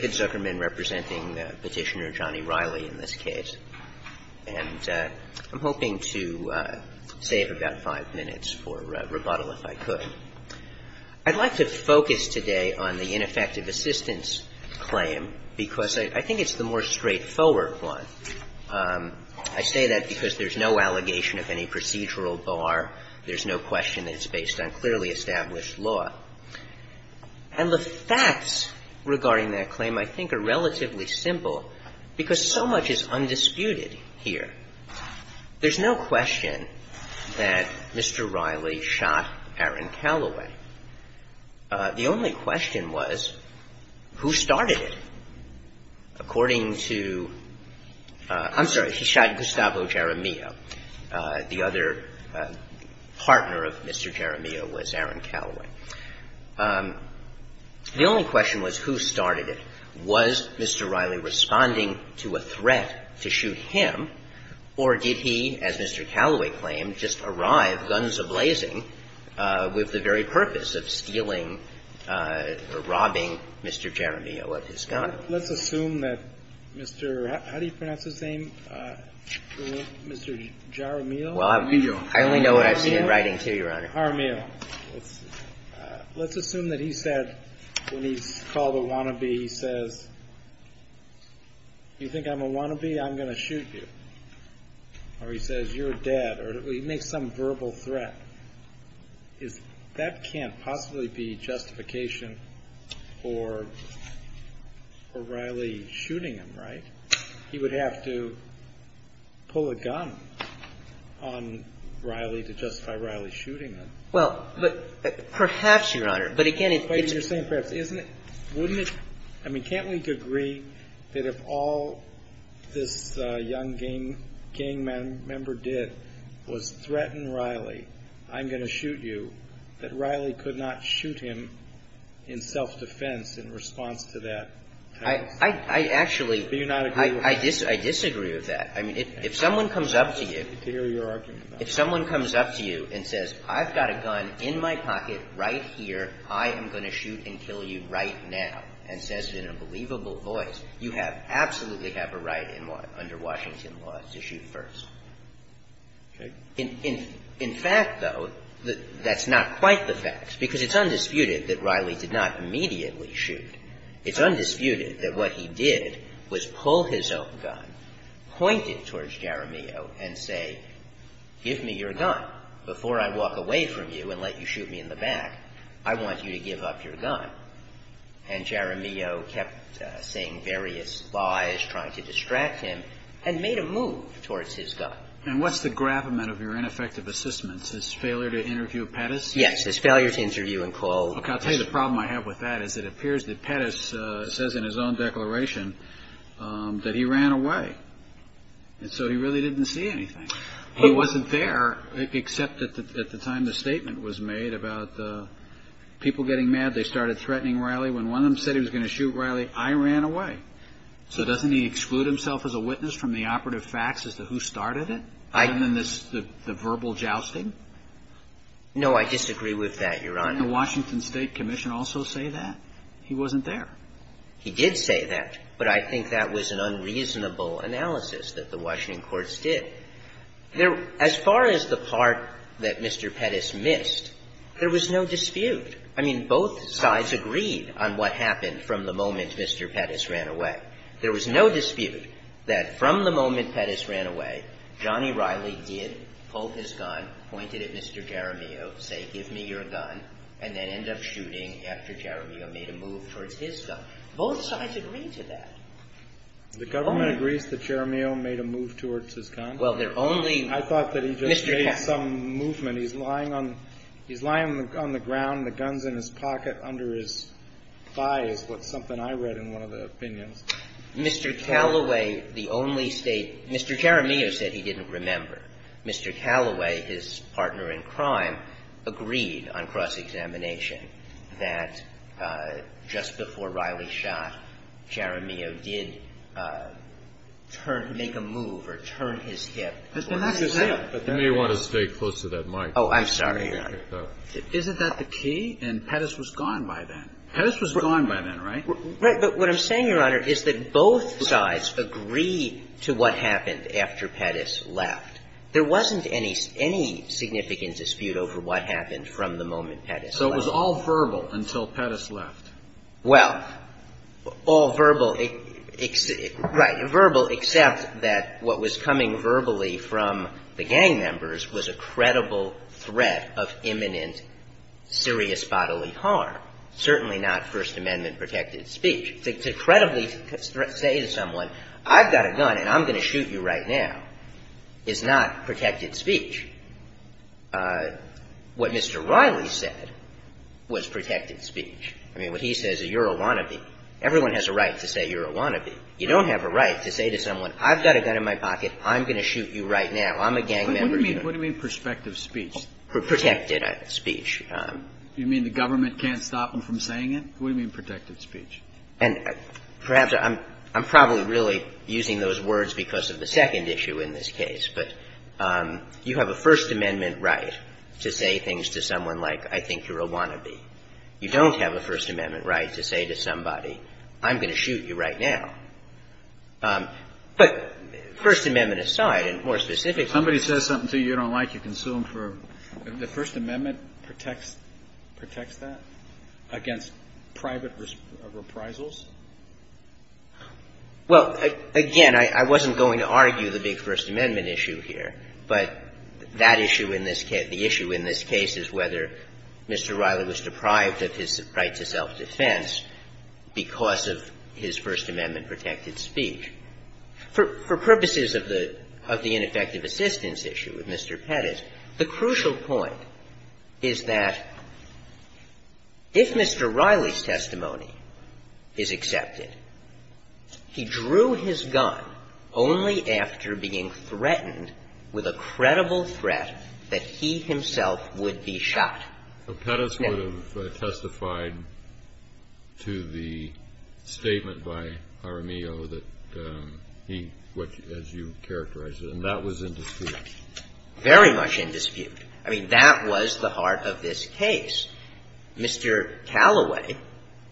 Zuckerman representing Petitioner Johnny Riley in this case. And I'm hoping to save about five minutes for rebuttal if I could. I'd like to focus today on the ineffective assistance claim because I think it's the more straightforward one. I say that because there's no allegation of any procedural bar. There's no question it's based on clearly established law. And the facts regarding that claim I think are relatively simple because so much is undisputed here. There's no question that Mr. Riley shot Aaron Calloway. The only question was who started it. According to — I'm sorry, he shot Gustavo Jaramillo. The other partner of Mr. Jaramillo was Aaron Calloway. The only question was who started it. Was Mr. Riley responding to a threat to shoot him, or did he, as Mr. Calloway claimed, just arrive, guns a-blazing, with the very purpose of stealing or robbing Mr. Jaramillo of his gun? Let's assume that Mr. — how do you pronounce his name? Mr. Jaramillo? Jaramillo. I only know what I've seen in writing, too, Your Honor. Jaramillo. Let's assume that he said — when he's called a wannabe, he says, you think I'm a wannabe? I'm going to shoot you. Or he says, you're dead. Or he makes some or Riley shooting him, right? He would have to pull a gun on Riley to justify Riley shooting him. Well, but perhaps, Your Honor, but again, it's — But you're saying perhaps. Isn't it — wouldn't it — I mean, can't we agree that if all this young gang member did was threaten Riley, I'm going to shoot you, that Riley could not shoot him in self-defense in response to that? I actually — Do you not agree with that? I disagree with that. I mean, if someone comes up to you — I can't wait to hear your argument about it. If someone comes up to you and says, I've got a gun in my pocket right here. I am going to shoot and kill you right now, and says it in a believable voice, you have — absolutely have a right under Washington law to shoot first. Okay. In fact, though, that's not quite the fact, because it's undisputed that Riley did not immediately shoot. It's undisputed that what he did was pull his own gun, point it towards Jeremio and say, give me your gun before I walk away from you and let you shoot me in the back. I want you to give up your gun. And Jeremio kept saying various lies, trying to distract him, and made a move towards his gun. And what's the gravamen of your ineffective assistance? His failure to interview Pettis? Yes, his failure to interview and pull — Look, I'll tell you the problem I have with that is it appears that Pettis says in his own declaration that he ran away. And so he really didn't see anything. He wasn't there, except at the time the statement was made about people getting mad, they started threatening Riley. When one of them said he was going to shoot Riley, I ran away. So doesn't he think that that was an unreasonable analysis that the Washington courts did? No, I disagree with that, Your Honor. Didn't the Washington State Commission also say that? He wasn't there. He did say that, but I think that was an unreasonable analysis that the Washington courts did. There — as far as the part that Mr. Pettis missed, there was no dispute. I mean, both sides agreed on what happened from the moment Mr. Pettis ran away. There was no dispute that from the moment Pettis ran away, Johnny Riley did pull his gun, pointed at Mr. Jeremio, say, give me your gun, and then ended up shooting after Jeremio made a move towards his gun. Both sides agreed to that. The government agrees that Jeremio made a move towards his gun? Well, there only — I thought that he just made some movement. He's lying on — he's lying on the ground, the gun's in his pocket under his thigh is what's something I read in one of the opinions. Mr. Calloway, the only State — Mr. Jeremio said he didn't remember. Mr. Calloway, his partner in crime, agreed on cross-examination that just before Riley shot, Jeremio did turn — make a move or turn his hip towards his hip. But you may want to stay close to that mic. Oh, I'm sorry, Your Honor. Isn't that the key? And Pettis was gone by then. Pettis was gone by then, right? But what I'm saying, Your Honor, is that both sides agreed to what happened after Pettis left. There wasn't any significant dispute over what happened from the moment Pettis left. So it was all verbal until Pettis left? Well, all verbal — right, verbal except that what was coming verbally from the gang members was a credible threat of imminent serious bodily harm. Certainly not First Amendment protected speech. To credibly say to someone, I've got a gun and I'm going to shoot you right now, is not protected speech. What Mr. Riley said was protected speech. I mean, what he says, you're a wannabe. Everyone has a right to say you're a wannabe. You don't have a right to say to someone, I've got a gun in my pocket, I'm going to shoot you right now. I'm a gang member. What do you mean, what do you mean prospective speech? Protected speech. You mean the government can't stop them from saying it? What do you mean protected speech? And perhaps I'm probably really using those words because of the second issue in this case. But you have a First Amendment right to say things to someone like, I think you're a wannabe. You don't have a First Amendment right to say to somebody, I'm going to shoot you right now. But First Amendment aside, and more specifically — If somebody says something to you you don't like, you can sue them for — The First Amendment protects that against private reprisals? Well, again, I wasn't going to argue the big First Amendment issue here. But that issue in this case — the issue in this case is whether Mr. Riley was deprived of his right to self-defense because of his First Amendment protected speech. For purposes of the ineffective assistance issue with Mr. Pettis, the crucial point is that if Mr. Riley's testimony is accepted, he drew his gun only after being threatened with a credible threat that he himself would be shot. So Pettis would have testified to the statement by RMEO that he — as you characterized it, very much in dispute. I mean, that was the heart of this case. Mr. Callaway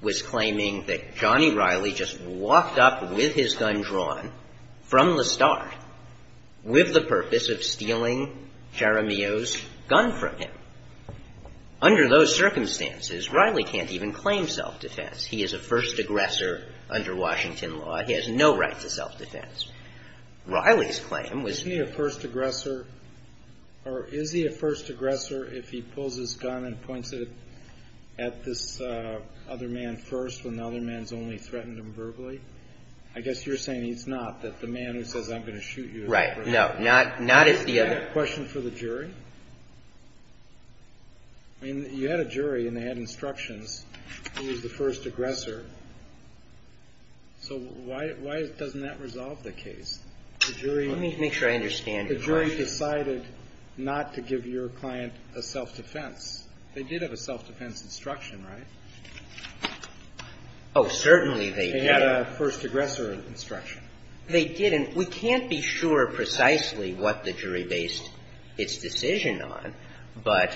was claiming that Johnny Riley just walked up with his gun drawn from the start with the purpose of stealing RMEO's gun from him. Under those circumstances, Riley can't even claim self-defense. He is a first aggressor under Washington law. He has no right to self-defense. Riley's claim was — Is he a first aggressor — or is he a first aggressor if he pulls his gun and points it at this other man first when the other man's only threatened him verbally? I guess you're saying he's not, that the man who says, I'm going to shoot you is a first aggressor. Right. No. Not if the other — Do you have a question for the jury? I mean, you had a jury and they had instructions. He was the first aggressor. So why doesn't that resolve the case? The jury — Let me make sure I understand your question. The jury decided not to give your client a self-defense. They did have a self-defense instruction, right? Oh, certainly they did. They had a first aggressor instruction. They did. And we can't be sure precisely what the jury based its decision on, but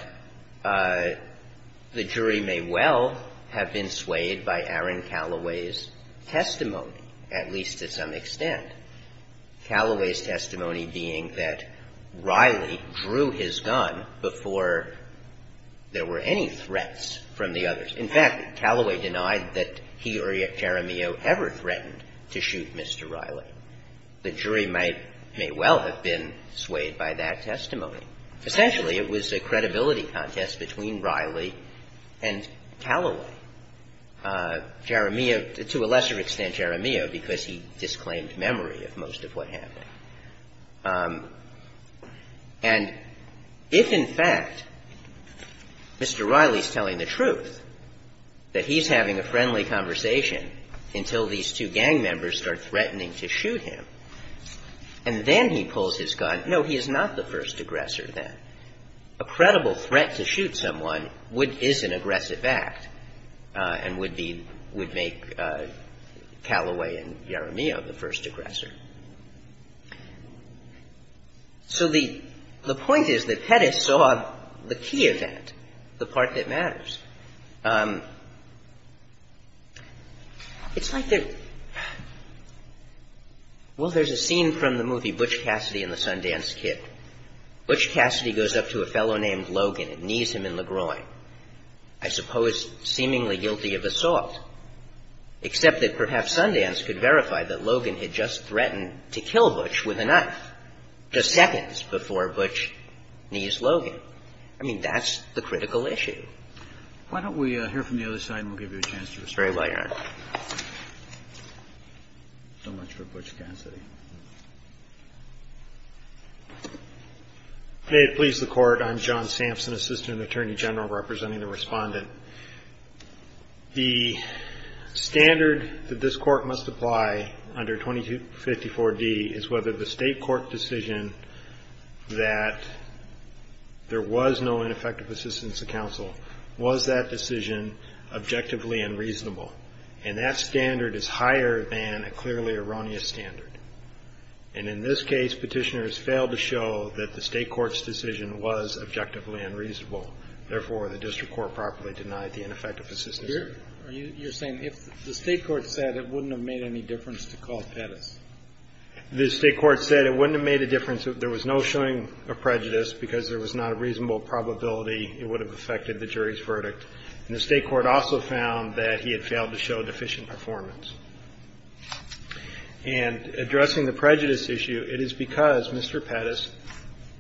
the jury may well have been swayed by Aaron Calloway's testimony, at least to some extent. Calloway's testimony being that Riley drew his gun before there were any threats from the others. In fact, Calloway denied that he or Jeremio ever threatened to shoot Mr. Riley. The jury might — may well have been swayed by that testimony. Essentially, it was a credibility contest between Riley and Calloway. Jeremio — to a lesser extent, Jeremio, because he disclaimed memory of most of what happened. And if, in fact, Mr. Riley's telling the truth, that he's having a friendly conversation until these two gang members start threatening to shoot him, and then he pulls his gun. No, he is not the first aggressor then. A credible threat to shoot someone would — is an aggressive act and would be — would make Calloway and Jeremio the first aggressor. So the — the point is that Pettis saw the key event, the part that matters. It's like the — well, there's a scene from the movie Butch Cassidy and the Sundance Kid. Butch Cassidy goes up to a fellow named Logan and knees him in the groin, I suppose seemingly guilty of assault, except that perhaps Sundance could verify that Logan had just threatened to kill Butch with a knife, just seconds before Butch knees Logan. I mean, that's the critical issue. Why don't we hear from the other side, and we'll give you a chance to respond. Very well, Your Honor. So much for Butch Cassidy. May it please the Court. I'm John Sampson, Assistant Attorney General, representing the Respondent. The standard that this Court must apply under 2254d is whether the State court decision that there was no ineffective assistance to counsel, was that decision objectively unreasonable? And that standard is higher than a clearly erroneous standard. And in this case, Petitioners failed to show that the State court's decision was objectively unreasonable. Therefore, the District Court properly denied the ineffective assistance. You're saying if the State court said it wouldn't have made any difference to call Pettis? The State court said it wouldn't have made a difference. There was no showing of prejudice, because there was not a reasonable probability it would have affected the jury's verdict. And the State court also found that he had failed to show deficient performance. And addressing the prejudice issue, it is because Mr. Pettis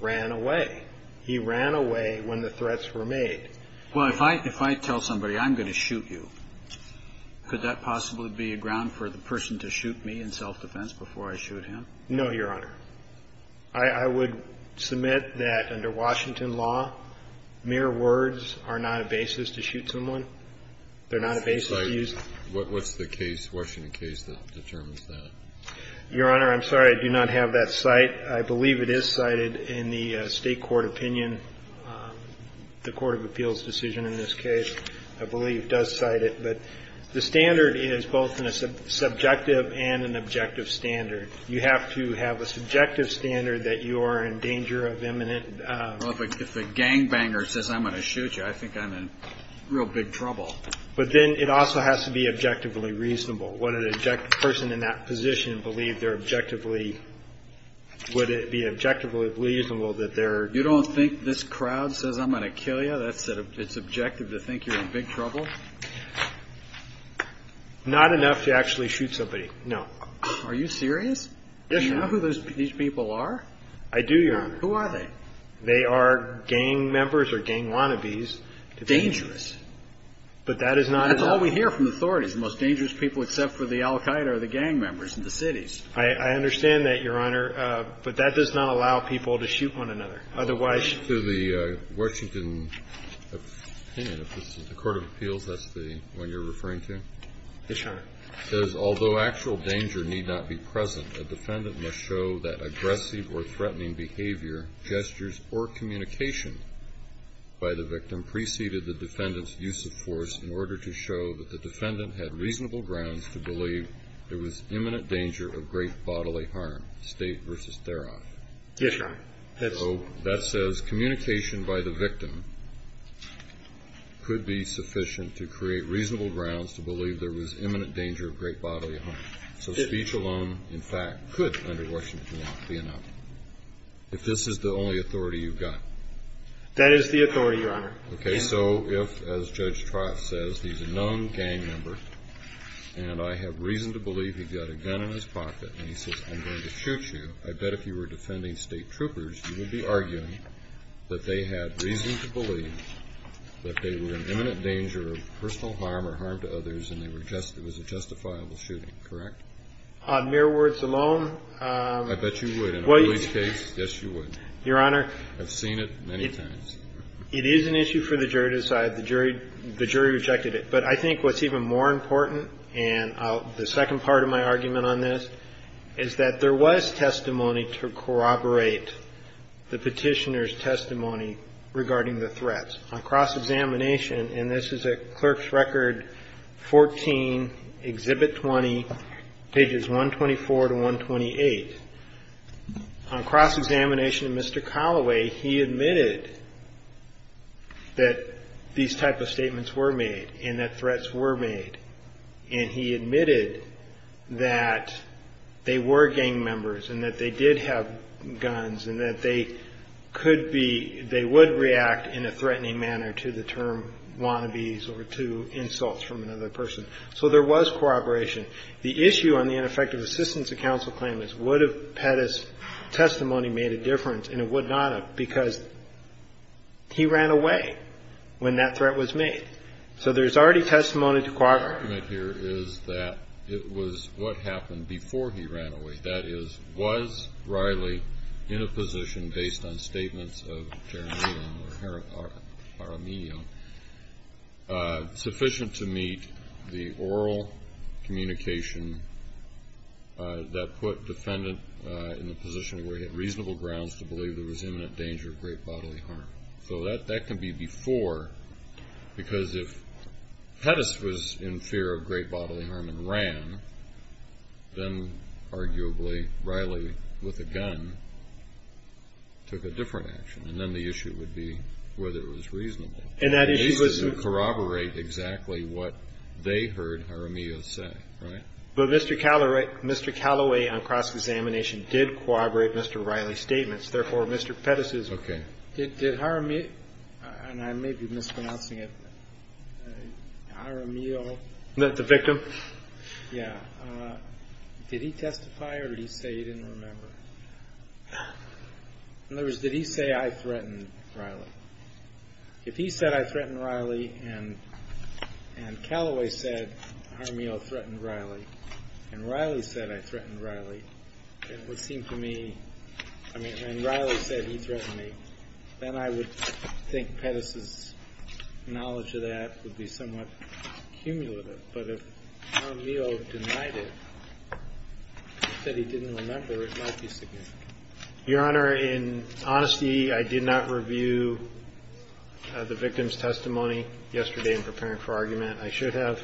ran away. He ran away when the threats were made. Well, if I tell somebody, I'm going to shoot you, could that possibly be a ground for the person to shoot me in self-defense before I shoot him? No, Your Honor. I would submit that under Washington law, mere words are not a basis to shoot someone. They're not a basis to use. What's the case, Washington case, that determines that? Your Honor, I'm sorry, I do not have that cite. I believe it is cited in the State court opinion, the court of appeals decision in this case, I believe does cite it. But the standard is both a subjective and an objective standard. You have to have a subjective standard that you are in danger of imminent... Well, if the gangbanger says, I'm going to shoot you, I think I'm in real big trouble. But then it also has to be objectively reasonable. Would an objective person in that position believe they're objectively... Would it be objectively reasonable that they're... You don't think this crowd says, I'm going to kill you? So it's objective to think you're in big trouble? Not enough to actually shoot somebody, no. Are you serious? Yes, Your Honor. Do you know who these people are? I do, Your Honor. Who are they? They are gang members or gang wannabes. Dangerous. But that is not... That's all we hear from authorities. The most dangerous people except for the Al-Qaeda are the gang members in the cities. I understand that, Your Honor, but that does not allow people to shoot one another. Otherwise... According to the Washington opinion, if this is the court of appeals, that's the one you're referring to? Yes, Your Honor. It says, although actual danger need not be present, a defendant must show that aggressive or threatening behavior, gestures, or communication by the victim preceded the defendant's use of force in order to show that the defendant had reasonable grounds to believe there was imminent danger of great bodily harm. State versus Therof. Yes, Your Honor. That says communication by the victim could be sufficient to create reasonable grounds to believe there was imminent danger of great bodily harm. So speech alone, in fact, could, under Washington law, be enough. If this is the only authority you've got. That is the authority, Your Honor. Okay, so if, as Judge Trott says, he's a known gang member, and I have reason to believe he's got a gun in his pocket, and he says, I'm going to shoot you, I bet if you were defending state troopers, you would be arguing that they had reason to believe that they were in imminent danger of personal harm or harm to others, and it was a justifiable shooting, correct? On mere words alone. I bet you would. In a police case, yes, you would. Your Honor. I've seen it many times. It is an issue for the jury to decide. The jury rejected it. But I think what's even more important, and the second part of my argument on this is that there was testimony to corroborate the petitioner's testimony regarding the threats. On cross-examination, and this is at Clerk's Record 14, Exhibit 20, pages 124 to 128, on cross-examination, Mr. Colloway, he admitted that these type of statements were made and that threats were made, and he admitted that they were gang members and that they did have guns and that they could be, they would react in a threatening manner to the term wannabes or to insults from another person. So there was corroboration. The issue on the ineffective assistance of counsel claim is would have Pettis' testimony made a difference, and it would not have because he ran away when that threat was made. So there's already testimony to corroborate. The argument here is that it was what happened before he ran away. That is, was Riley in a position, based on statements of Jaramillo or Jaramillo, sufficient to meet the oral communication that put defendant in a position where he had reasonable grounds to believe there was imminent danger of great bodily harm. So that can be before because if Pettis was in fear of great bodily harm and ran, then arguably Riley, with a gun, took a different action, and then the issue would be whether it was reasonable. And that issue was to corroborate exactly what they heard Jaramillo say, right? But Mr. Colloway, on cross-examination, did corroborate Mr. Riley's statements. Therefore, Mr. Pettis is okay. Did Jaramillo, and I may be mispronouncing it, Jaramillo. The victim? Yeah. Did he testify or did he say he didn't remember? In other words, did he say I threatened Riley? If he said I threatened Riley and Colloway said Jaramillo threatened Riley and Riley said I threatened Riley, it would seem to me, I mean, and Riley said he threatened me, then I would think Pettis' knowledge of that would be somewhat cumulative. But if Jaramillo denied it, said he didn't remember, it might be significant. Your Honor, in honesty, I did not review the victim's testimony yesterday in preparing for argument. I should have.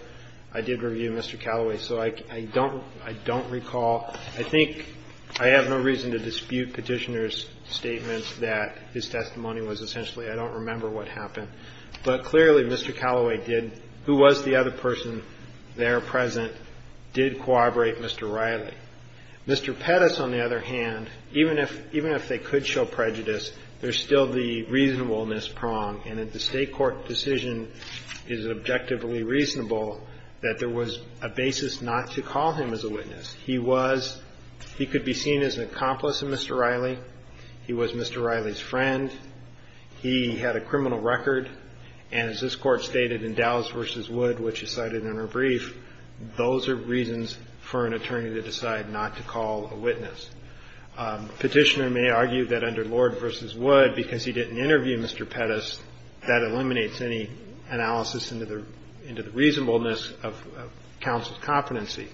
I did review Mr. Colloway. So I don't recall. I think I have no reason to dispute Petitioner's statements that his testimony was essentially I don't remember what happened. But clearly, Mr. Colloway did, who was the other person there present, did corroborate Mr. Riley. Mr. Pettis, on the other hand, even if they could show prejudice, there's still the reasonableness prong. And if the State court decision is objectively reasonable, that there was a basis not to call him as a witness. He was he could be seen as an accomplice of Mr. Riley. He was Mr. Riley's friend. He had a criminal record. And as this Court stated in Dows v. Wood, which is cited in our brief, those are reasons for an attorney to decide not to call a witness. Petitioner may argue that under Lord v. Wood, because he didn't interview Mr. Pettis, that eliminates any analysis into the reasonableness of counsel's competency.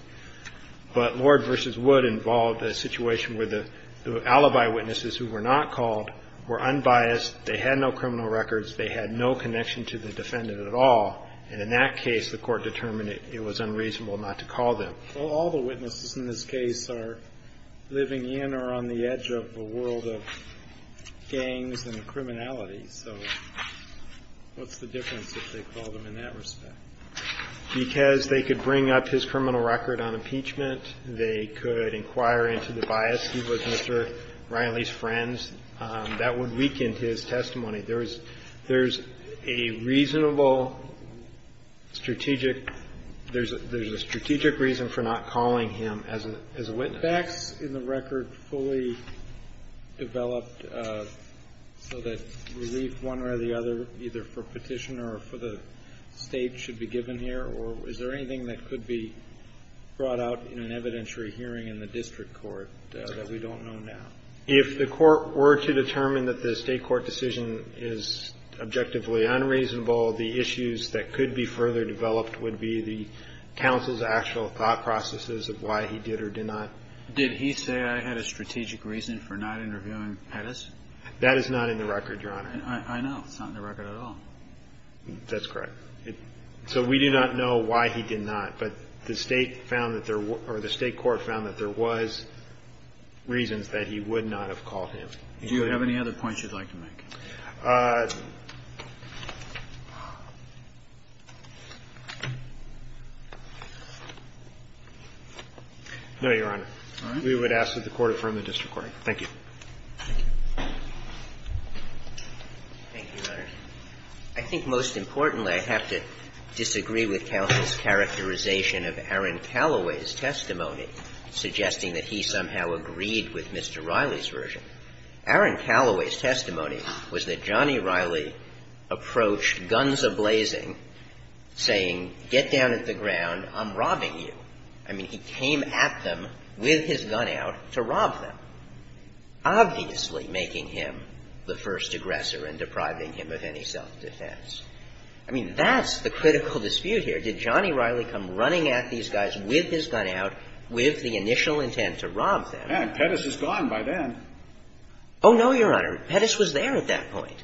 But Lord v. Wood involved a situation where the alibi witnesses who were not called were unbiased. They had no criminal records. They had no connection to the defendant at all. And in that case, the Court determined it was unreasonable not to call them. All the witnesses in this case are living in or on the edge of the world of gangs and criminality. So what's the difference if they call them in that respect? Because they could bring up his criminal record on impeachment. They could inquire into the bias. He was Mr. Riley's friend. That would weaken his testimony. There's a reasonable strategic – there's a strategic reason for not calling him as a witness. Kennedy. Facts in the record fully developed so that relief one way or the other, either for Petitioner or for the State, should be given here? Or is there anything that could be brought out in an evidentiary hearing in the district court that we don't know now? If the Court were to determine that the State court decision is objectively unreasonable, the issues that could be further developed would be the counsel's actual thought processes of why he did or did not. Did he say, I had a strategic reason for not interviewing Pettis? That is not in the record, Your Honor. I know. It's not in the record at all. That's correct. So we do not know why he did not. But the State found that there – or the State court found that there was reasons that he would not have called him. Do you have any other points you'd like to make? No, Your Honor. All right. We would ask that the Court affirm the district court. Thank you. Thank you, Your Honor. I think most importantly, I have to disagree with counsel's characterization of Aaron Calloway's testimony, suggesting that he somehow agreed with Mr. Riley's version. Aaron Calloway's testimony was that Johnny Riley approached, guns a-blazing, saying, get down at the ground, I'm robbing you. I mean, he came at them with his gun out to rob them, obviously making him the first aggressor and depriving him of any self-defense. I mean, that's the critical dispute here. Did Johnny Riley come running at these guys with his gun out, with the initial intent to rob them? Yeah. And Pettis is gone by then. Oh, no, Your Honor. Pettis was there at that point.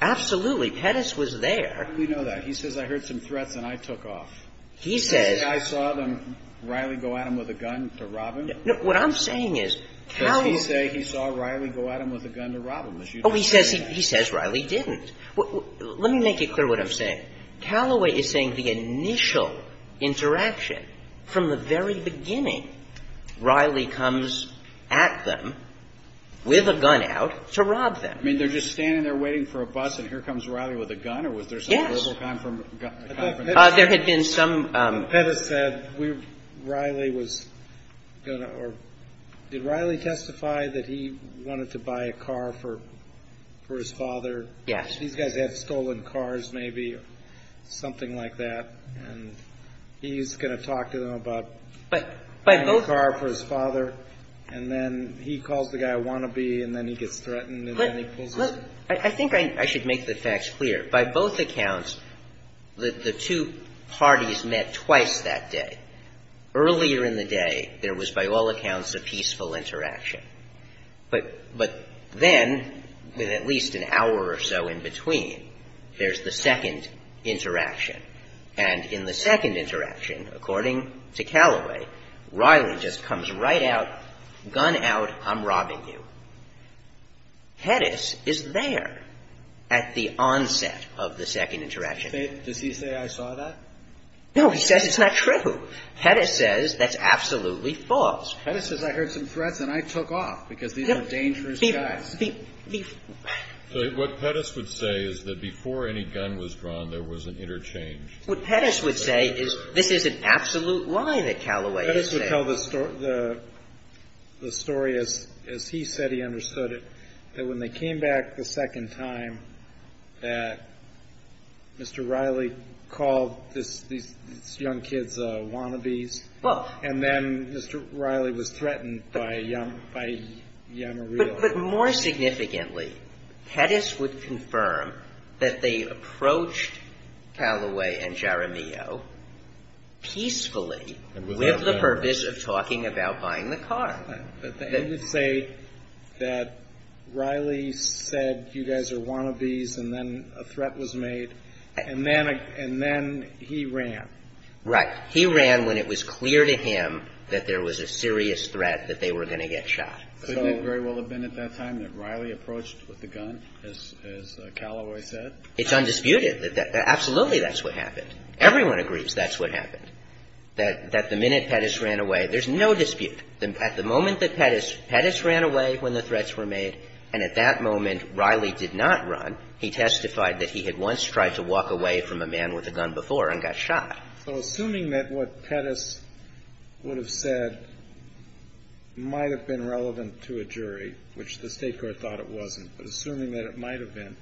Absolutely. Pettis was there. How do we know that? He says, I heard some threats and I took off. He says – Does he say, I saw them, Riley go at him with a gun to rob him? No. What I'm saying is, Calloway – Does he say he saw Riley go at him with a gun to rob him? Oh, he says Riley didn't. Let me make it clear what I'm saying. Calloway is saying the initial interaction, from the very beginning, Riley comes at them with a gun out to rob them. I mean, they're just standing there waiting for a bus and here comes Riley with a gun? Yes. Or was there some verbal confrontation? There had been some – Pettis said Riley was going to – or did Riley testify that he wanted to buy a car for his father? Yes. These guys have stolen cars, maybe, or something like that, and he's going to talk to them about buying a car for his father? And then he calls the guy a wannabe and then he gets threatened and then he pulls his – I think I should make the facts clear. By both accounts, the two parties met twice that day. Earlier in the day, there was, by all accounts, a peaceful interaction. But then, with at least an hour or so in between, there's the second interaction. And in the second interaction, according to Calloway, Riley just comes right out, gun out, I'm robbing you. Pettis is there at the onset of the second interaction. Does he say I saw that? No, he says it's not true. Pettis says that's absolutely false. Pettis says I heard some threats and I took off because these are dangerous guys. So what Pettis would say is that before any gun was drawn, there was an interchange. What Pettis would say is this is an absolute lie that Calloway is saying. Pettis would tell the story as he said he understood it, that when they came back the second time, that Mr. Riley called these young kids wannabes. Well. And then Mr. Riley was threatened by young or real. But more significantly, Pettis would confirm that they approached Calloway and Jeremio peacefully with the purpose of talking about buying the car. But they would say that Riley said you guys are wannabes and then a threat was made and then he ran. Right. He ran when it was clear to him that there was a serious threat that they were going to get shot. Couldn't it very well have been at that time that Riley approached with the gun, as Calloway said? It's undisputed. Absolutely that's what happened. Everyone agrees that's what happened. That the minute Pettis ran away, there's no dispute. At the moment that Pettis ran away when the threats were made and at that moment Riley did not run, he testified that he had once tried to walk away from a man with a gun before and got shot. So assuming that what Pettis would have said might have been relevant to a jury, which the State court thought it wasn't, but assuming that it might have been,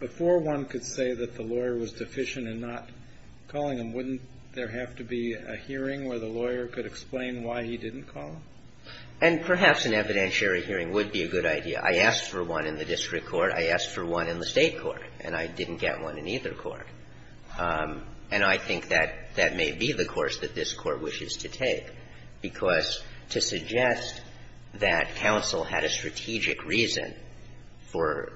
before one could say that the lawyer was deficient in not calling him, wouldn't there have to be a hearing where the lawyer could explain why he didn't call him? And perhaps an evidentiary hearing would be a good idea. I asked for one in the district court. I asked for one in the State court. And I didn't get one in either court. And I think that that may be the course that this Court wishes to take, because to suggest that counsel had a strategic reason for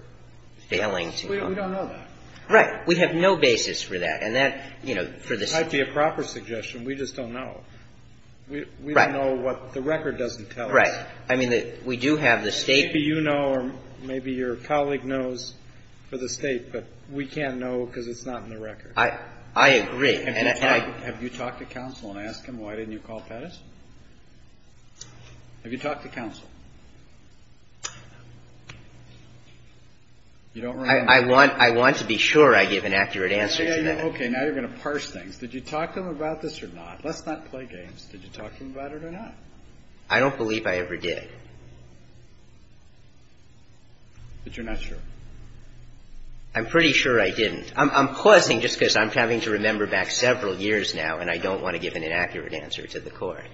failing to call him. We don't know that. Right. We have no basis for that. And that, you know, for the State court. It might be a proper suggestion. We just don't know. Right. We don't know what the record doesn't tell us. Right. I mean, we do have the State court. Maybe you know or maybe your colleague knows for the State, but we can't know because it's not in the record. I agree. Have you talked to counsel and asked him why didn't you call Pettis? Have you talked to counsel? I want to be sure I give an accurate answer to that. Okay. Now you're going to parse things. Did you talk to him about this or not? Let's not play games. Did you talk to him about it or not? I don't believe I ever did. But you're not sure. I'm pretty sure I didn't. I'm pausing just because I'm having to remember back several years now and I don't want to give an inaccurate answer to the court.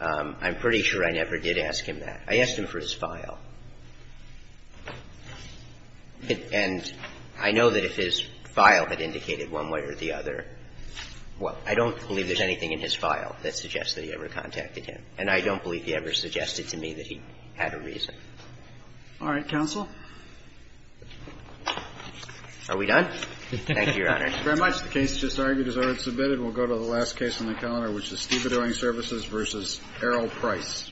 I'm pretty sure I never did ask him that. I asked him for his file. And I know that if his file had indicated one way or the other, I don't believe there's anything in his file that suggests that he ever contacted him. And I don't believe he ever suggested to me that he had a reason. All right. Counsel. Are we done? Thank you, Your Honor. Thank you very much. The case just argued is already submitted. We'll go to the last case on the calendar, which is Steve Adering Services v. Errol Price. Thank you, Your Honor.